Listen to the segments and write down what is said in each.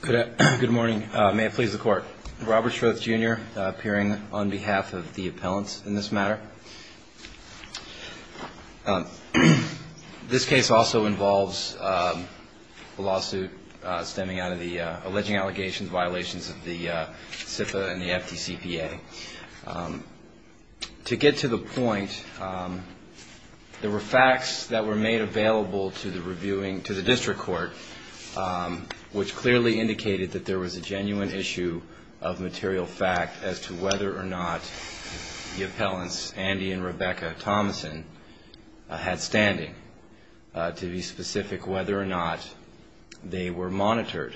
Good morning. May it please the Court. Robert Shroth, Jr. appearing on behalf of the appellants in this matter. This case also involves a lawsuit stemming out of the alleging allegations violations of the CFA and the FDCPA. To get to the point, there were facts that were made available to the district court which clearly indicated that there was a genuine issue of material fact as to whether or not the appellants, Andy and Rebecca Thomasson, had standing to be specific whether or not they were monitored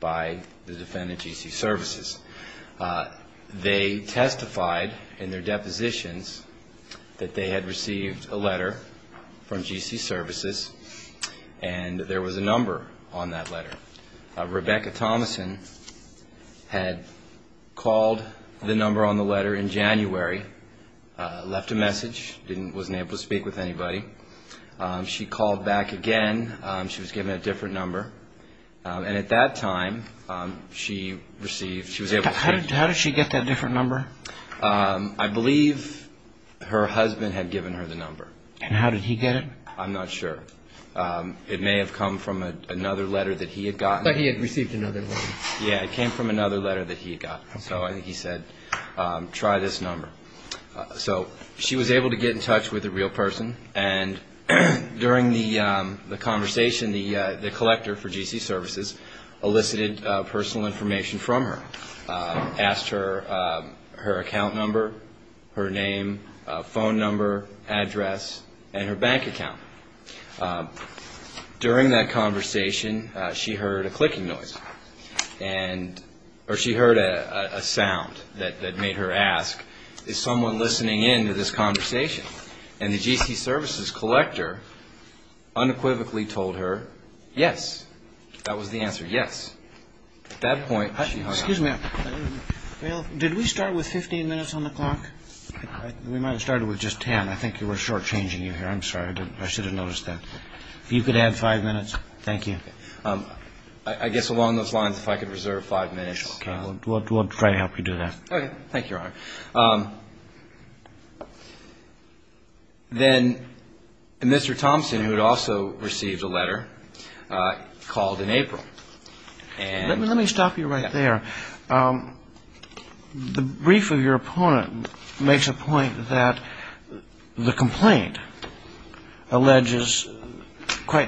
by the defendant, GC Services. They testified in their depositions that they had received a letter from GC Services and there was a number on that letter. Rebecca Thomasson had called the number on the letter in January, left a message, wasn't able to speak with anybody. She called back again. She was given a different number. And at that time, she received... How did she get that different number? I believe her husband had given her the number. And how did he get it? I'm not sure. It may have come from another letter that he had gotten. But he had received another letter. Yeah, it came from another letter that he had gotten. So he said, try this number. So she was able to get in touch with the real person. And during the conversation, the collector for GC Services elicited personal information from her, asked her account number, her name, phone number, address, and her bank account. During that conversation, she heard a clicking noise. Or she heard a sound that made her ask, is someone listening in to this conversation? And the GC Services collector unequivocally told her, yes. That was the answer, yes. At that point... Excuse me. Did we start with 15 minutes on the clock? We might have started with just 10. I think we're short-changing you here. I'm sorry. I should have noticed that. If you could add five minutes. Thank you. I guess along those lines, if I could reserve five minutes... Okay. We'll try to help you do that. Okay. Thank you, Your Honor. Then Mr. Thompson, who had also received a letter, called in April. Let me stop you right there. The brief of your opponent makes a point that the complaint alleges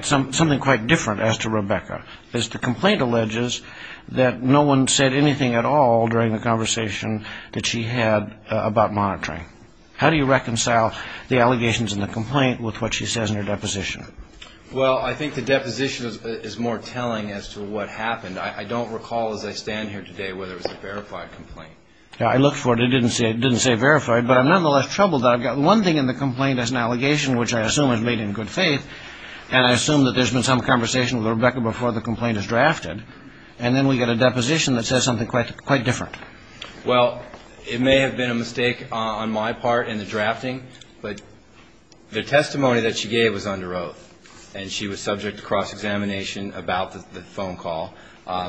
something quite different as to Rebecca. The complaint alleges that no one said anything at all during the conversation that she had about monitoring. How do you reconcile the allegations in the complaint with what she says in her deposition? Well, I think the deposition is more telling as to what happened. I don't recall as I stand here today whether it was a verified complaint. I looked for it. It didn't say verified. But I'm nonetheless troubled that I've got one thing in the complaint as an allegation, which I assume is made in good faith, and I assume that there's been some conversation with Rebecca before the complaint is drafted, and then we get a deposition that says something quite different. Well, it may have been a mistake on my part in the drafting, but the testimony that she gave was under oath, and she was subject to cross-examination about the phone call.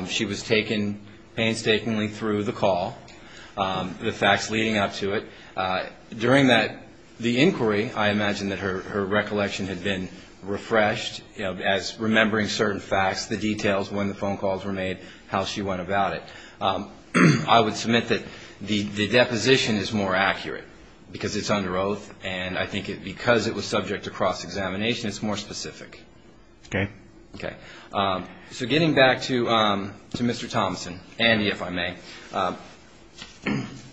She was taken painstakingly through the call, the facts leading up to it. During the inquiry, I imagine that her recollection had been refreshed as remembering certain facts, the details when the phone calls were made, how she went about it. I would submit that the deposition is more accurate because it's under oath, and I think because it was subject to cross-examination, it's more specific. Okay. Okay. So getting back to Mr. Thomson, Andy, if I may,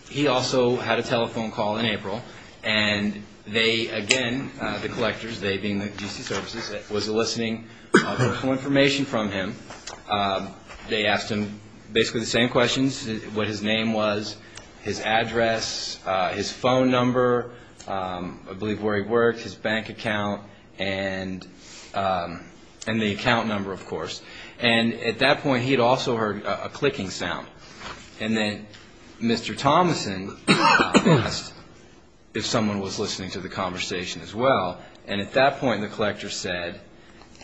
he also had a telephone call in April, and they, again, the collectors, they being the D.C. Services, was eliciting personal information from him. They asked him basically the same questions, what his name was, his address, his phone number, I believe where he worked, his bank account, and the account number, of course. And at that point, he'd also heard a clicking sound. And then Mr. Thomson asked if someone was listening to the conversation as well, and at that point the collector said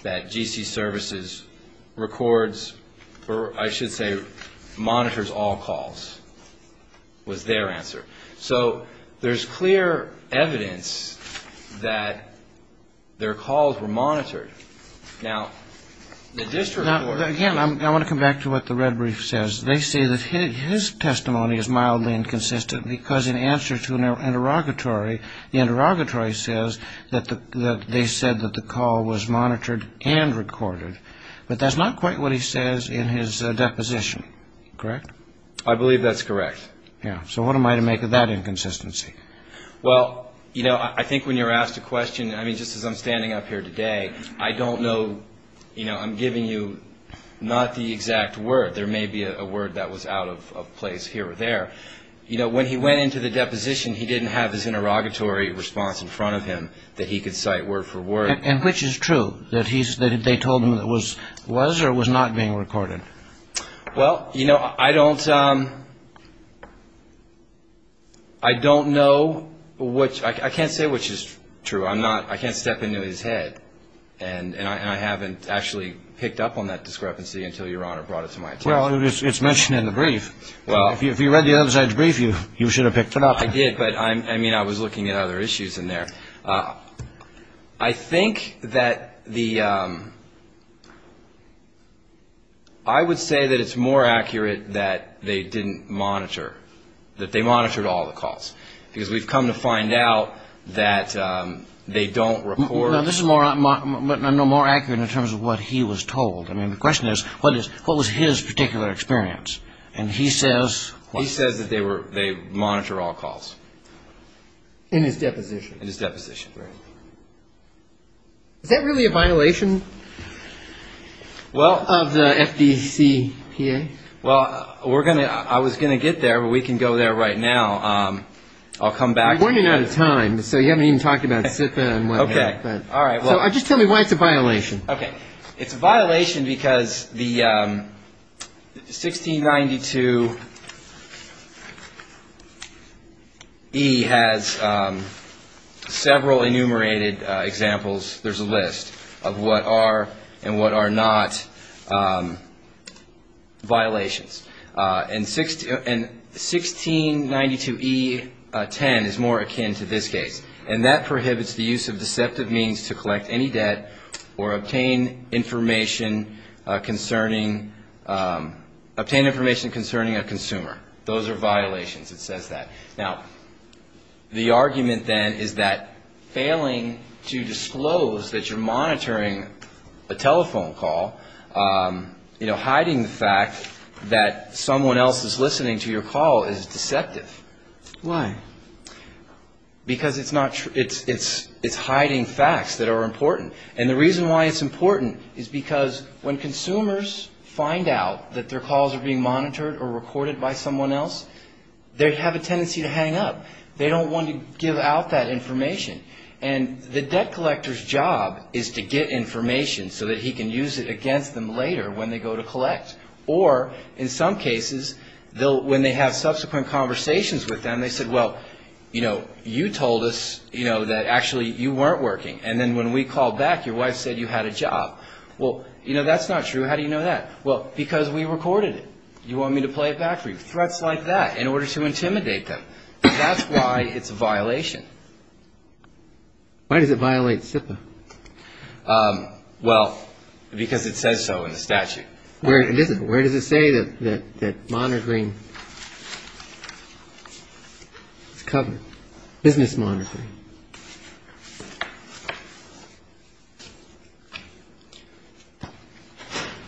that D.C. Services records, or I should say monitors all calls was their answer. So there's clear evidence that their calls were monitored. Now, the district court ---- Now, again, I want to come back to what the red brief says. They say that his testimony is mildly inconsistent because in answer to an interrogatory, the interrogatory says that they said that the call was monitored and recorded. But that's not quite what he says in his deposition, correct? I believe that's correct. Yeah. So what am I to make of that inconsistency? Well, you know, I think when you're asked a question, I mean, just as I'm standing up here today, I don't know, you know, I'm giving you not the exact word. There may be a word that was out of place here or there. You know, when he went into the deposition, he didn't have his interrogatory response in front of him that he could cite word for word. And which is true, that they told him it was or it was not being recorded? Well, you know, I don't know which ---- I can't say which is true. I'm not ---- I can't step into his head. And I haven't actually picked up on that discrepancy until Your Honor brought it to my attention. Well, it's mentioned in the brief. Well. If you read the other side's brief, you should have picked it up. I did. But, I mean, I was looking at other issues in there. I think that the ---- I would say that it's more accurate that they didn't monitor, that they monitored all the calls. Because we've come to find out that they don't report. No, this is more accurate in terms of what he was told. I mean, the question is, what was his particular experience? And he says. He says that they monitor all calls. In his deposition. In his deposition, right. Is that really a violation of the FDCPA? Well, we're going to ---- I was going to get there, but we can go there right now. I'll come back. We're running out of time. So you haven't even talked about SIPA and what have you. Okay. All right. So just tell me why it's a violation. Okay. It's a violation because the 1692E has several enumerated examples. There's a list of what are and what are not violations. And 1692E10 is more akin to this case. And that prohibits the use of deceptive means to collect any debt or obtain information concerning a consumer. Those are violations. It says that. Now, the argument, then, is that failing to disclose that you're monitoring a telephone call, hiding the fact that someone else is listening to your call is deceptive. Why? Because it's hiding facts that are important. And the reason why it's important is because when consumers find out that their calls are being monitored or recorded by someone else, they have a tendency to hang up. They don't want to give out that information. And the debt collector's job is to get information so that he can use it against them later when they go to collect. Or, in some cases, when they have subsequent conversations with them, they said, well, you know, you told us, you know, that actually you weren't working. And then when we called back, your wife said you had a job. Well, you know, that's not true. How do you know that? Well, because we recorded it. You want me to play it back for you? Threats like that in order to intimidate them. That's why it's a violation. Why does it violate SIPA? Well, because it says so in the statute. Where does it say that monitoring is covered? Business monitoring.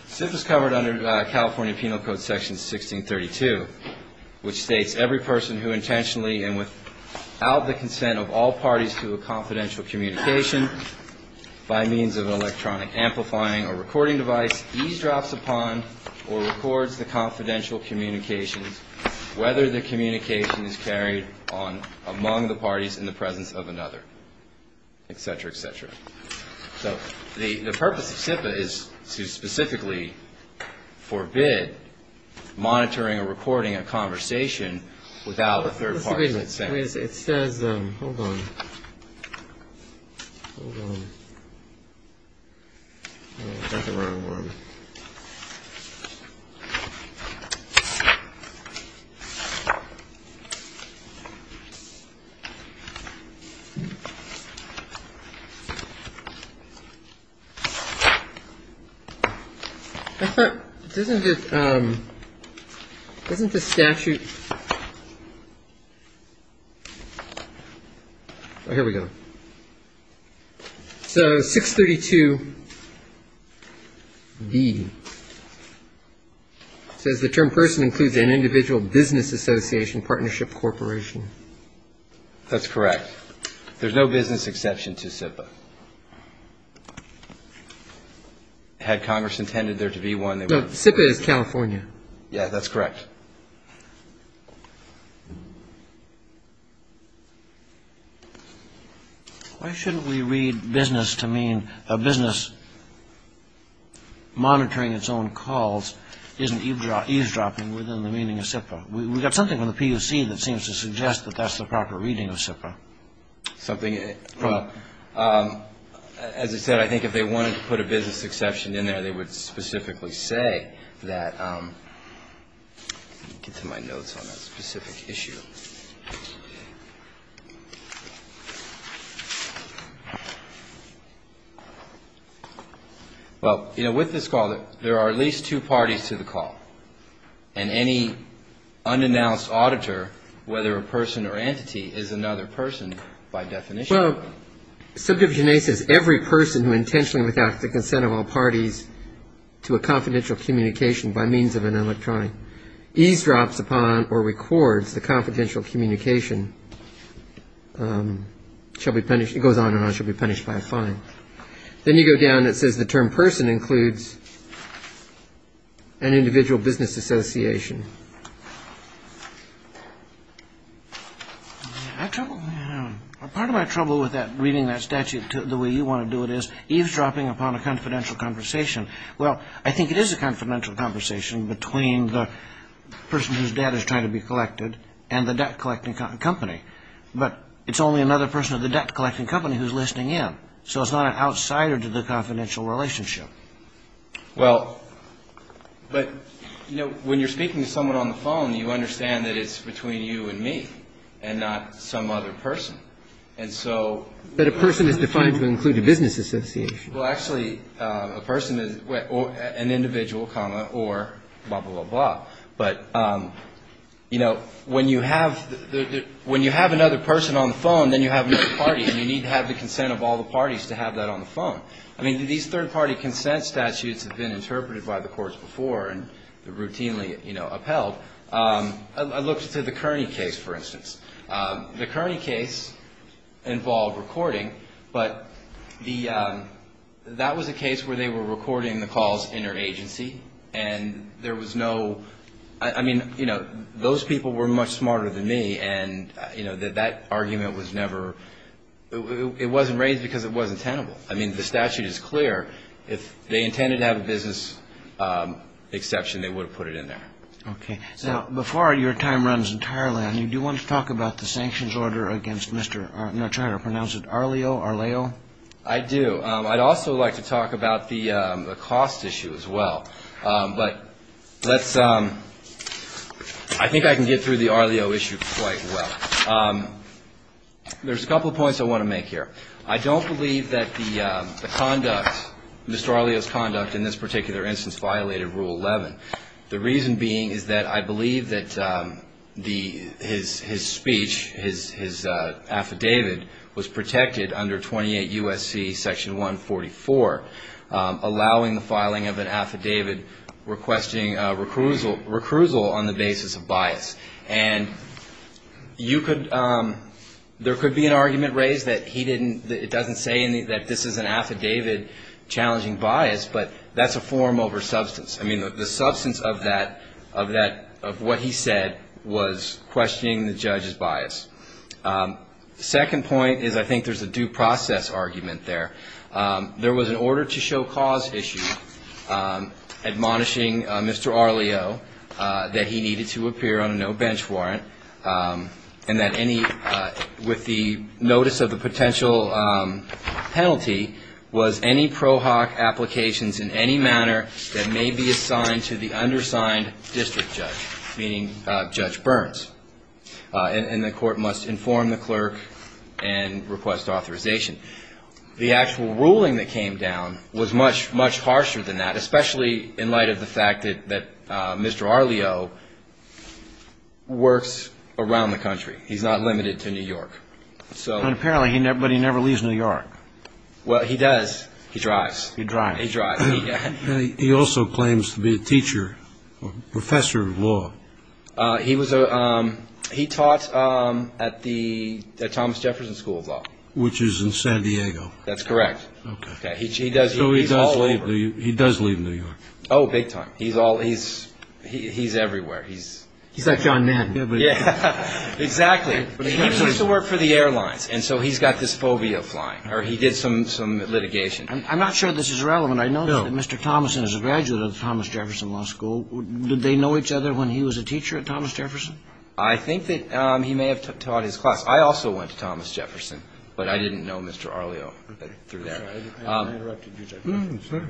SIPA is covered under California Penal Code Section 1632, which states every person who intentionally and without the consent of all parties to a confidential communication by means of an electronic amplifying or recording device eavesdrops upon or records the confidential communications, whether the communication is carried on among the parties in the presence of another, et cetera, et cetera. So the purpose of SIPA is to specifically forbid monitoring or recording a conversation without a third party consent. It says, hold on, hold on. That's the wrong one. I thought, doesn't it, doesn't the statute. Oh, here we go. So 632D says the term person includes an individual business association, partnership, corporation. That's correct. There's no business exception to SIPA. Had Congress intended there to be one. SIPA is California. Yeah, that's correct. Why shouldn't we read business to mean a business monitoring its own calls isn't eavesdropping within the meaning of SIPA? We've got something in the PUC that seems to suggest that that's the proper reading of SIPA. Something, as I said, I think if they wanted to put a business exception in there, they would specifically say that, get to my notes on that specific issue. Well, you know, with this call, there are at least two parties to the call. And any unannounced auditor, whether a person or entity, is another person by definition. Well, Subdivision A says every person who intentionally without the consent of all parties to a confidential communication by means of an electronic eavesdrops upon or records the confidential communication shall be punished. It goes on and on, shall be punished by a fine. Then you go down, it says the term person includes an individual business association. Part of my trouble with reading that statute the way you want to do it is eavesdropping upon a confidential conversation. Well, I think it is a confidential conversation between the person whose debt is trying to be collected and the debt collecting company. But it's only another person of the debt collecting company who's listening in. So it's not an outsider to the confidential relationship. Well, but, you know, when you're speaking to someone on the phone, you understand that it's between you and me and not some other person. And so. But a person is defined to include a business association. Well, actually, a person is an individual, comma, or blah, blah, blah, blah. But, you know, when you have another person on the phone, then you have another party. And you need to have the consent of all the parties to have that on the phone. I mean, these third-party consent statutes have been interpreted by the courts before and routinely, you know, upheld. I looked at the Kearney case, for instance. The Kearney case involved recording, but that was a case where they were recording the calls interagency. And there was no, I mean, you know, those people were much smarter than me. And, you know, that argument was never, it wasn't raised because it wasn't tenable. I mean, the statute is clear. If they intended to have a business exception, they would have put it in there. Okay. Now, before your time runs entirely on you, do you want to talk about the sanctions order against Mr. Arleo? I do. I'd also like to talk about the cost issue as well. But let's, I think I can get through the Arleo issue quite well. There's a couple of points I want to make here. I don't believe that the conduct, Mr. Arleo's conduct in this particular instance violated Rule 11. The reason being is that I believe that the, his speech, his affidavit was protected under 28 U.S.C. Section 144, allowing the filing of an affidavit requesting a recusal on the basis of bias. And you could, there could be an argument raised that he didn't, it doesn't say that this is an affidavit challenging bias, but that's a form over substance. I mean, the substance of that, of what he said was questioning the judge's bias. Second point is I think there's a due process argument there. There was an order to show cause issue admonishing Mr. Arleo that he needed to appear on a no-bench warrant, and that any, with the notice of the potential penalty, was any pro hoc applications in any manner that may be assigned to the undersigned district judge, meaning Judge Burns. And the court must inform the clerk and request authorization. The actual ruling that came down was much, much harsher than that, especially in light of the fact that Mr. Arleo works around the country. He's not limited to New York. And apparently he never, but he never leaves New York. Well, he does. He drives. He drives. He drives. He also claims to be a teacher, a professor of law. He was a, he taught at the Thomas Jefferson School of Law. Which is in San Diego. That's correct. Okay. He does, he's all over. So he does leave New York. Oh, big time. He's all, he's everywhere. He's like John Madden. Yeah, exactly. He used to work for the airlines, and so he's got this phobia of flying, or he did some litigation. I'm not sure this is relevant. I know that Mr. Thomason is a graduate of the Thomas Jefferson Law School. Did they know each other when he was a teacher at Thomas Jefferson? I think that he may have taught his class. I also went to Thomas Jefferson, but I didn't know Mr. Arleo through that. I'm sorry.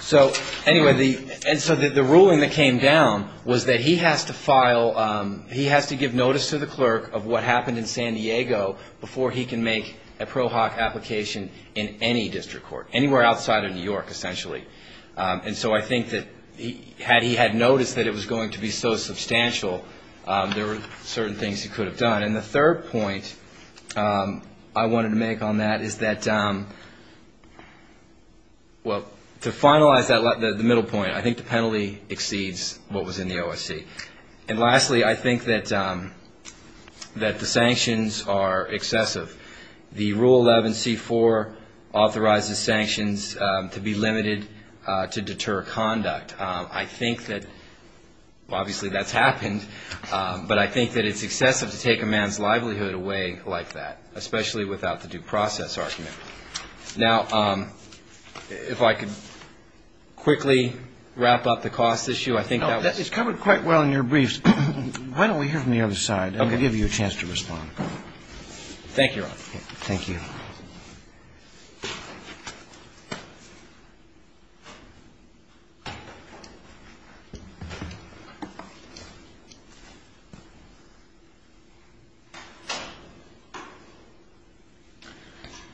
So, anyway, the, and so the ruling that came down was that he has to file, he has to give notice to the clerk of what happened in San Diego before he can make a pro hoc application in any district court, anywhere outside of New York, essentially. And so I think that had he had noticed that it was going to be so substantial, there were certain things he could have done. And the third point I wanted to make on that is that, well, to finalize the middle point, I think the penalty exceeds what was in the OSC. And lastly, I think that the sanctions are excessive. The Rule 11C4 authorizes sanctions to be limited to deter conduct. I think that, well, obviously that's happened, but I think that it's excessive to take a man's livelihood away like that, especially without the due process argument. Now, if I could quickly wrap up the cost issue, I think that was. It's covered quite well in your briefs. Why don't we hear from the other side? Okay. And we'll give you a chance to respond. Thank you, Your Honor. Thank you.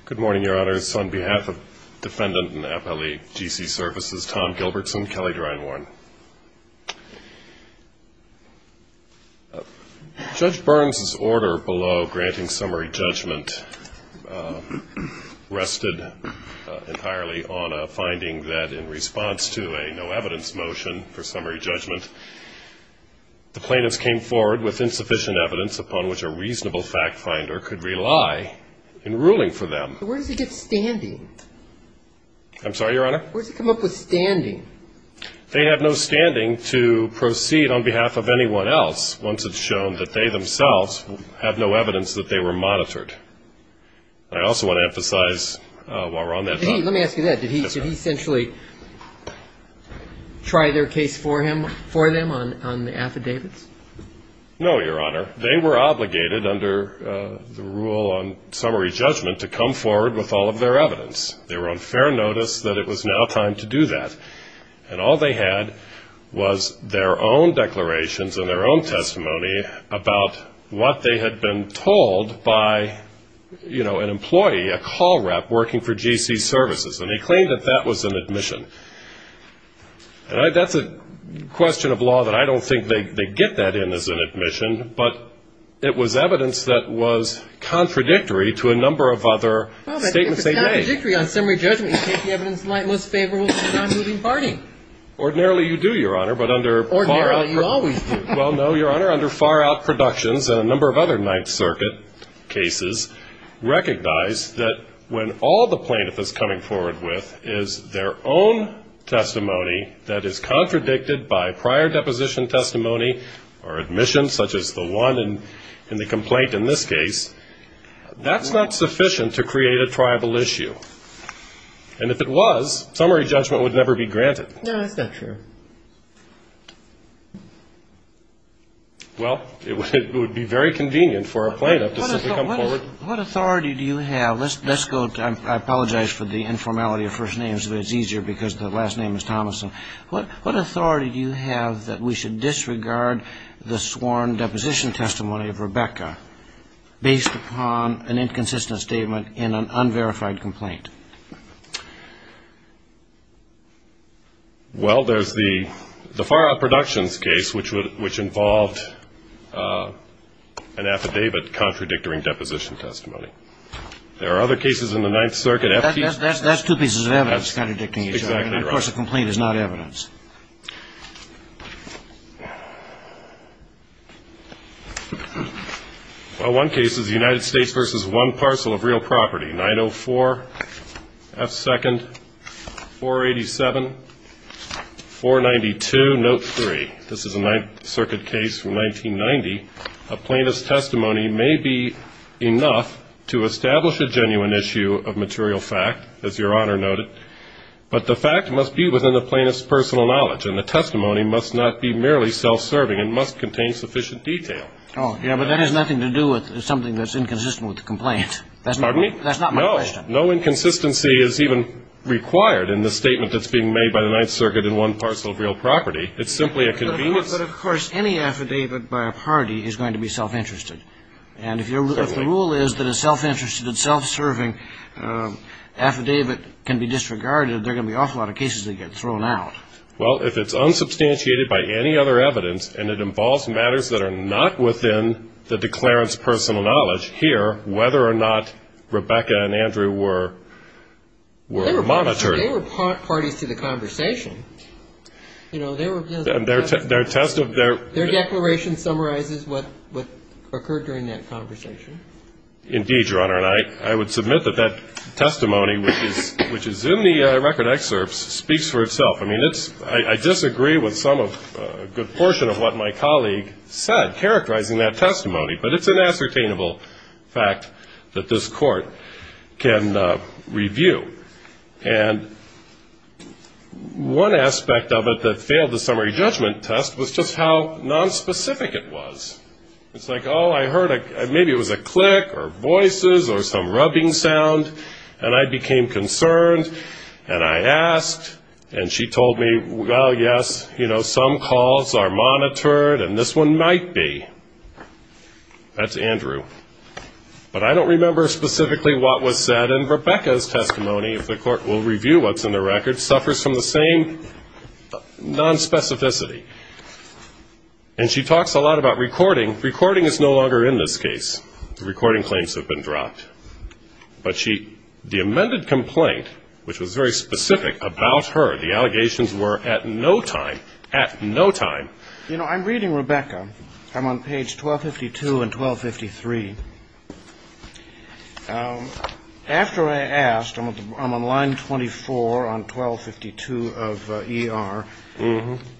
Good morning, Your Honors. On behalf of Defendant and Appellee GC Services, Tom Gilbertson, Kelly Grindworn. Judge Burns's order below granting summary judgment rested entirely on a finding that in response to a no evidence motion for summary judgment, the plaintiffs came forward with insufficient evidence upon which a reasonable fact finder could rely in ruling for them. Where does he get standing? I'm sorry, Your Honor? Where does he come up with standing? They have no standing to proceed on behalf of anyone else once it's shown that they themselves have no evidence that they were monitored. I also want to emphasize while we're on that topic. Let me ask you that. Did he essentially try their case for them on the affidavits? No, Your Honor. They were obligated under the rule on summary judgment to come forward with all of their evidence. They were on fair notice that it was now time to do that. And all they had was their own declarations and their own testimony about what they had been told by, you know, an employee, a call rep working for GC Services, and they claimed that that was an admission. That's a question of law that I don't think they get that in as an admission, but it was evidence that was contradictory to a number of other statements they made. It's contradictory on summary judgment. You take the evidence in light most favorable to the non-moving party. Ordinarily you do, Your Honor, but under far- Ordinarily you always do. Well, no, Your Honor. Under far-out productions and a number of other Ninth Circuit cases, recognize that when all the plaintiff is coming forward with is their own testimony that is contradicted by prior deposition testimony or admission, such as the one in the complaint in this case, that's not sufficient to create a tribal issue. And if it was, summary judgment would never be granted. No, that's not true. Well, it would be very convenient for a plaintiff to simply come forward- What authority do you have? Let's go, I apologize for the informality of first names, but it's easier because the last name is Thomason. What authority do you have that we should disregard the sworn deposition testimony of Rebecca based upon an inconsistent statement in an unverified complaint? Well, there's the far-out productions case, which involved an affidavit contradicting deposition testimony. There are other cases in the Ninth Circuit- That's two pieces of evidence contradicting each other. Exactly right. And, of course, a complaint is not evidence. Well, one case is the United States v. One Parcel of Real Property, 904 F. 2nd, 487 492, Note 3. This is a Ninth Circuit case from 1990. A plaintiff's testimony may be enough to establish a genuine issue of material fact, as Your Honor noted, but the fact must be within the plaintiff's personal knowledge, and the testimony must not be merely self-serving. It must contain sufficient detail. Oh, yeah, but that has nothing to do with something that's inconsistent with the complaint. Pardon me? That's not my question. No. No inconsistency is even required in the statement that's being made by the Ninth Circuit in One Parcel of Real Property. It's simply a convenience- But, of course, any affidavit by a party is going to be self-interested. And if the rule is that a self-interested, self-serving affidavit can be disregarded, there are going to be an awful lot of cases that get thrown out. Well, if it's unsubstantiated by any other evidence, and it involves matters that are not within the declarant's personal knowledge, here, whether or not Rebecca and Andrew were monitored- They were parties to the conversation. You know, they were- Their test of their- This is what occurred during that conversation. Indeed, Your Honor. And I would submit that that testimony, which is in the record excerpts, speaks for itself. I mean, it's- I disagree with some of- a good portion of what my colleague said, characterizing that testimony. But it's an ascertainable fact that this Court can review. And one aspect of it that failed the summary judgment test was just how nonspecific it was. It's like, oh, I heard a- maybe it was a click, or voices, or some rubbing sound, and I became concerned, and I asked, and she told me, well, yes, you know, some calls are monitored, and this one might be. That's Andrew. But I don't remember specifically what was said. And Rebecca's testimony, if the Court will review what's in the record, suffers from the same nonspecificity. And she talks a lot about recording. Recording is no longer in this case. The recording claims have been dropped. But she- the amended complaint, which was very specific about her, the allegations were at no time, at no time- You know, I'm reading Rebecca. I'm on page 1252 and 1253. After I asked, I'm on line 24 on 1252 of ER.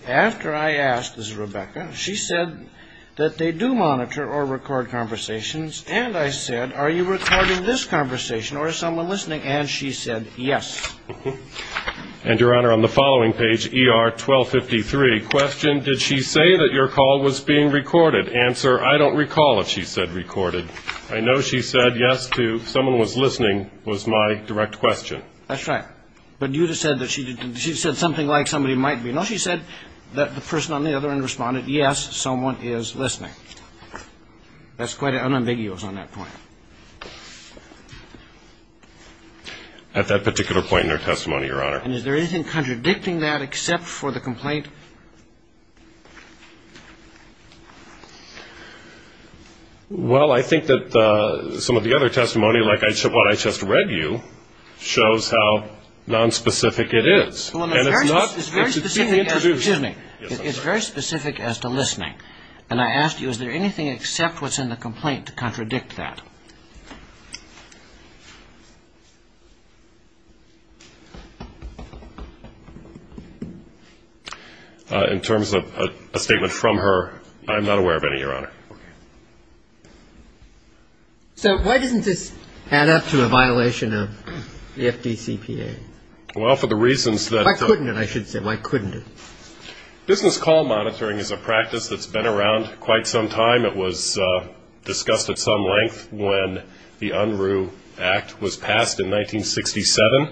After I asked, this is Rebecca, she said that they do monitor or record conversations. And I said, are you recording this conversation, or is someone listening? And she said, yes. And, Your Honor, on the following page, ER 1253, question, did she say that your call was being recorded? Answer, I don't recall if she said recorded. I know she said yes to someone was listening was my direct question. That's right. But you just said that she said something like somebody might be. No, she said that the person on the other end responded, yes, someone is listening. That's quite unambiguous on that point. At that particular point in her testimony, Your Honor. And is there anything contradicting that except for the complaint? Well, I think that some of the other testimony, like what I just read you, shows how nonspecific it is. And it's not- It's very specific as- Excuse me. Yes, I'm sorry. It's very specific as to listening. And I asked you, is there anything except what's in the complaint to contradict that? In terms of a statement from her, I'm not aware of any, Your Honor. Okay. So why doesn't this add up to a violation of the FDCPA? Well, for the reasons that- Why couldn't it, I should say. Why couldn't it? Business call monitoring is a practice that's been around quite some time. It was discussed at some length when the Unruh Act was passed in 1967.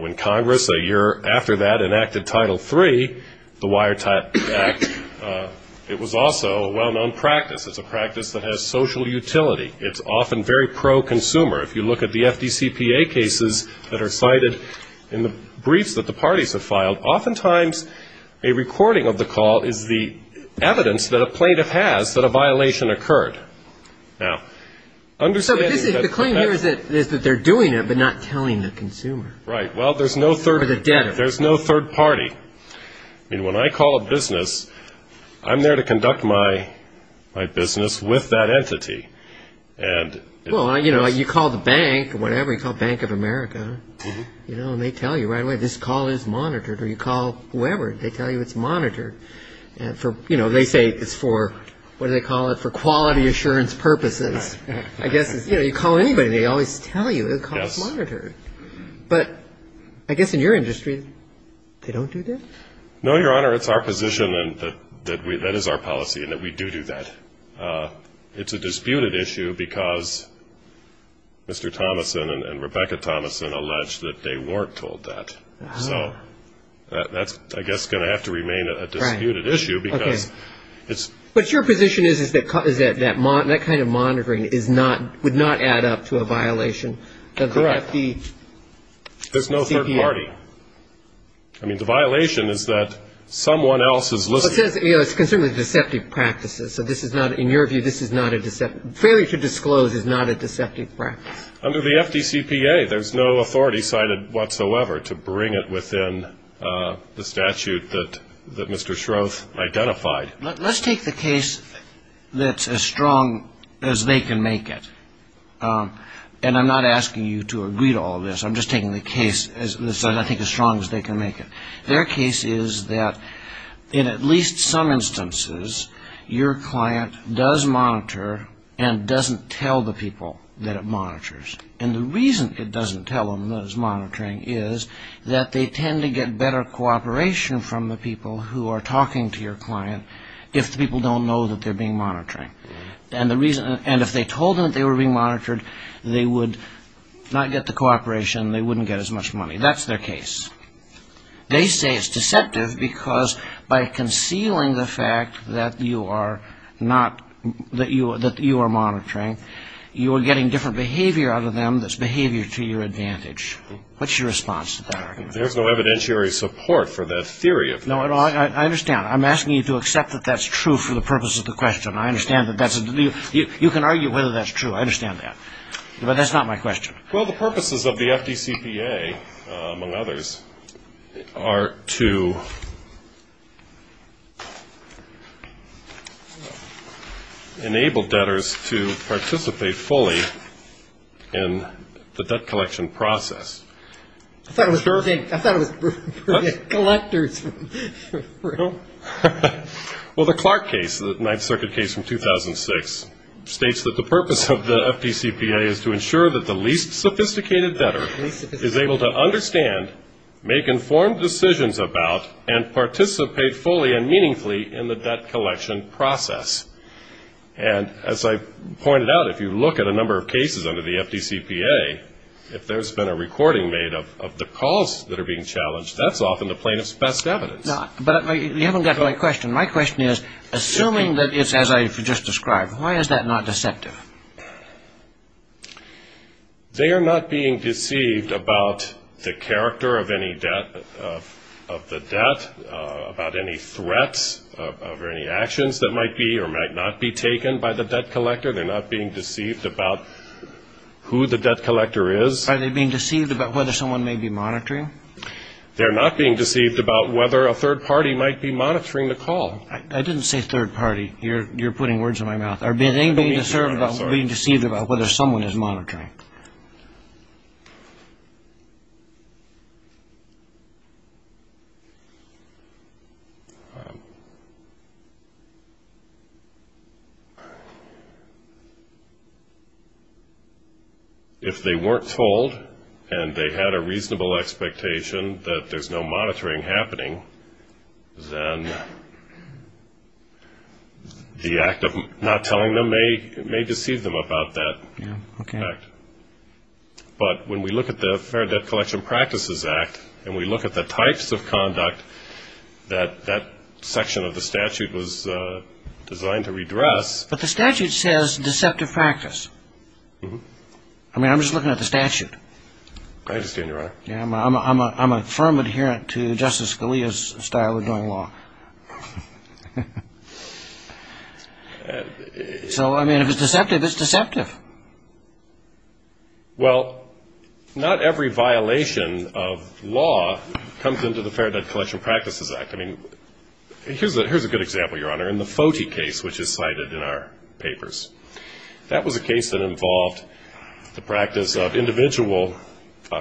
When Congress, a year after that, enacted Title III, the Wire Act, it was also a well-known practice. It's a practice that has social utility. It's often very pro-consumer. If you look at the FDCPA cases that are cited in the briefs that the parties have filed, oftentimes a recording of the call is the evidence that a plaintiff has that a violation occurred. Now, understanding that- So the claim here is that they're doing it, but not telling the consumer. Right. Well, there's no third- Or the debtor. There's no third party. I mean, when I call a business, I'm there to conduct my business with that entity. Well, you know, you call the bank or whatever, you call Bank of America, and they tell you right away, this call is monitored, or you call whoever, they tell you it's monitored. You know, they say it's for, what do they call it, for quality assurance purposes. Right. I guess, you know, you call anybody, they always tell you the call is monitored. Yes. But I guess in your industry, they don't do that? No, Your Honor, it's our position, and that is our policy, and that we do do that. It's a disputed issue because Mr. Thomason and Rebecca Thomason allege that they weren't told that. Wow. So that's, I guess, going to have to remain a disputed issue because it's- But your position is that that kind of monitoring is not, would not add up to a violation of the FDCPA? Correct. There's no third party. I mean, the violation is that someone else is listening. Well, it says it's concerned with deceptive practices. So this is not, in your view, this is not a deceptive, failure to disclose is not a deceptive practice. Under the FDCPA, there's no authority cited whatsoever to bring it within the statute that Mr. Shroth identified. Let's take the case that's as strong as they can make it, and I'm not asking you to agree to all this. I'm just taking the case that's, I think, as strong as they can make it. Their case is that in at least some instances, your client does monitor and doesn't tell the people that it monitors. And the reason it doesn't tell them that it's monitoring is that they tend to get better cooperation from the people who are talking to your client if the people don't know that they're being monitored. And if they told them that they were being monitored, they would not get the cooperation, they wouldn't get as much money. That's their case. They say it's deceptive because by concealing the fact that you are not, that you are monitoring, you are getting different behavior out of them that's behavior to your advantage. What's your response to that argument? There's no evidentiary support for that theory. No, I understand. I'm asking you to accept that that's true for the purpose of the question. I understand that that's, you can argue whether that's true, I understand that. But that's not my question. Well, the purposes of the FDCPA, among others, are to enable debtors to participate fully in the debt collection process. I thought it was for the collectors. Well, the Clark case, the Ninth Circuit case from 2006, states that the purpose of the FDCPA is to ensure that the least sophisticated debtor is able to understand, make informed decisions about, and participate fully and meaningfully in the debt collection process. And as I pointed out, if you look at a number of cases under the FDCPA, if there's been a recording made of the calls that are being challenged, that's often the plaintiff's best evidence. But you haven't got to my question. My question is, assuming that it's as I just described, why is that not deceptive? They are not being deceived about the character of any debt, of the debt, about any threats or any actions that might be or might not be taken by the debt collector. They're not being deceived about who the debt collector is. Are they being deceived about whether someone may be monitoring? They're not being deceived about whether a third party might be monitoring the call. I didn't say third party. You're putting words in my mouth. Are they being deceived about whether someone is monitoring? If they weren't told and they had a reasonable expectation that there's no monitoring happening, then the act of not telling them may deceive them about that act. But when we look at the Fair Debt Collection Practices Act and we look at the types of conduct that that section of the statute was designed to redress. But the statute says deceptive practice. I mean, I'm just looking at the statute. I understand you're right. I'm a firm adherent to Justice Scalia's style of doing law. So, I mean, if it's deceptive, it's deceptive. Well, not every violation of law comes into the Fair Debt Collection Practices Act. I mean, here's a good example, Your Honor, in the FOTI case, which is cited in our papers. That was a case that involved the practice of individual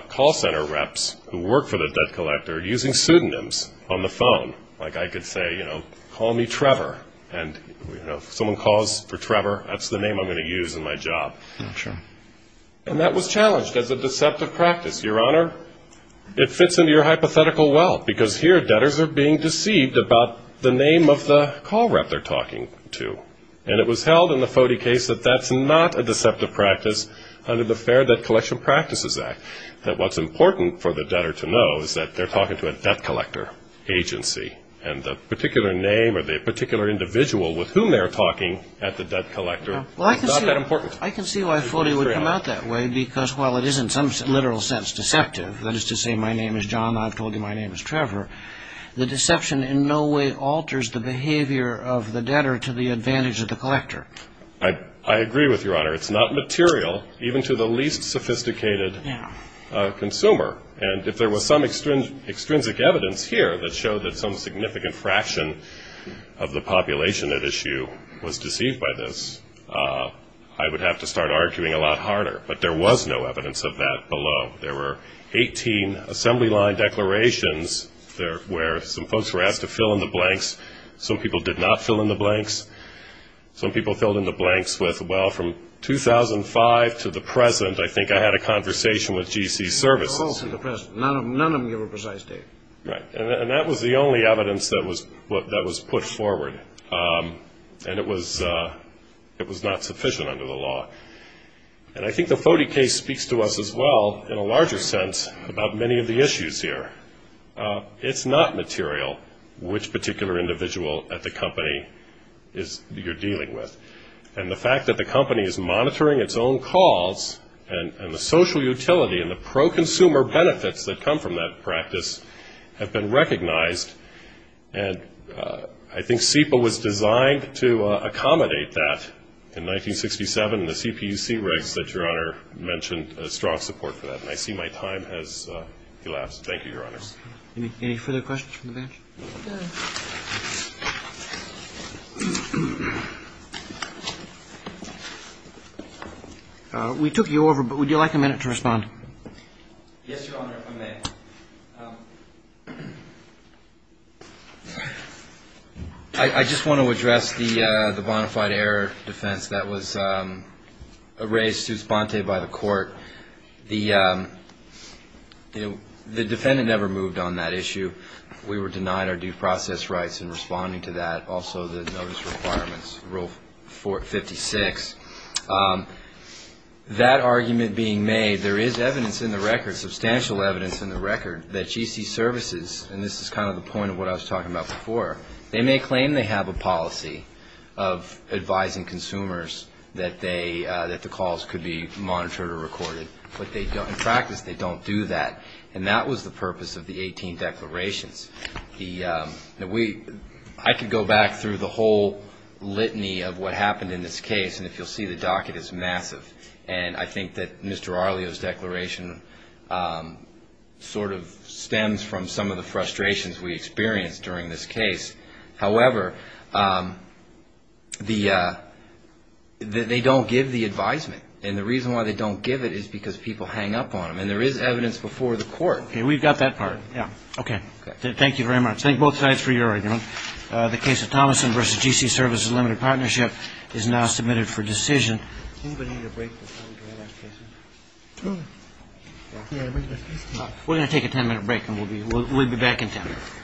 call center reps who work for the debt collector using pseudonyms on the phone. Like I could say, you know, call me Trevor. And, you know, if someone calls for Trevor, that's the name I'm going to use in my job. And that was challenged as a deceptive practice. Your Honor, it fits into your hypothetical well, because here debtors are being deceived about the name of the call rep they're talking to. And it was held in the FOTI case that that's not a deceptive practice under the Fair Debt Collection Practices Act, that what's important for the debtor to know is that they're talking to a debt collector agency. And the particular name or the particular individual with whom they're talking at the debt collector is not that important. Well, I can see why FOTI would come out that way, because while it is in some literal sense deceptive, that is to say, my name is John, I've told you my name is Trevor, the deception in no way alters the behavior of the debtor to the advantage of the collector. I agree with you, Your Honor. It's not material, even to the least sophisticated consumer. And if there was some extrinsic evidence here that showed that some significant fraction of the population at issue was deceived by this, I would have to start arguing a lot harder. But there was no evidence of that below. There were 18 assembly line declarations where some folks were asked to fill in the blanks. Some people did not fill in the blanks. Some people filled in the blanks with, well, from 2005 to the present, I think I had a conversation with G.C. Services. None of them gave a precise date. Right. And that was the only evidence that was put forward. And it was not sufficient under the law. And I think the Foti case speaks to us as well, in a larger sense, about many of the issues here. It's not material which particular individual at the company you're dealing with. And the fact that the company is monitoring its own calls and the social utility and the pro-consumer benefits that come from that practice have been recognized. And I think SEPA was designed to accommodate that in 1967, and the CPC writes that Your Honor mentioned a strong support for that. And I see my time has elapsed. Thank you, Your Honors. Any further questions from the bench? We took you over, but would you like a minute to respond? Yes, Your Honor, if I may. Yes, Your Honor. I just want to address the bona fide error defense that was raised by the court. The defendant never moved on that issue. We were denied our due process rights in responding to that, also the notice requirements, Rule 56. That argument being made, there is evidence in the record, substantial evidence in the record, that GC services, and this is kind of the point of what I was talking about before, they may claim they have a policy of advising consumers that the calls could be monitored or recorded, but in practice they don't do that. And that was the purpose of the 18 declarations. I could go back through the whole litany of what happened in this case, and if you'll see, the docket is massive. And I think that Mr. Arleo's declaration sort of stems from some of the frustrations we experienced during this case. However, they don't give the advisement. And the reason why they don't give it is because people hang up on them. And there is evidence before the court. Okay. We've got that part. Yeah. Okay. Thank you very much. Thank both sides for your argument. The case of Thomason v. GC Services Limited Partnership is now submitted for decision. We're going to take a ten-minute break, and we'll be back in ten.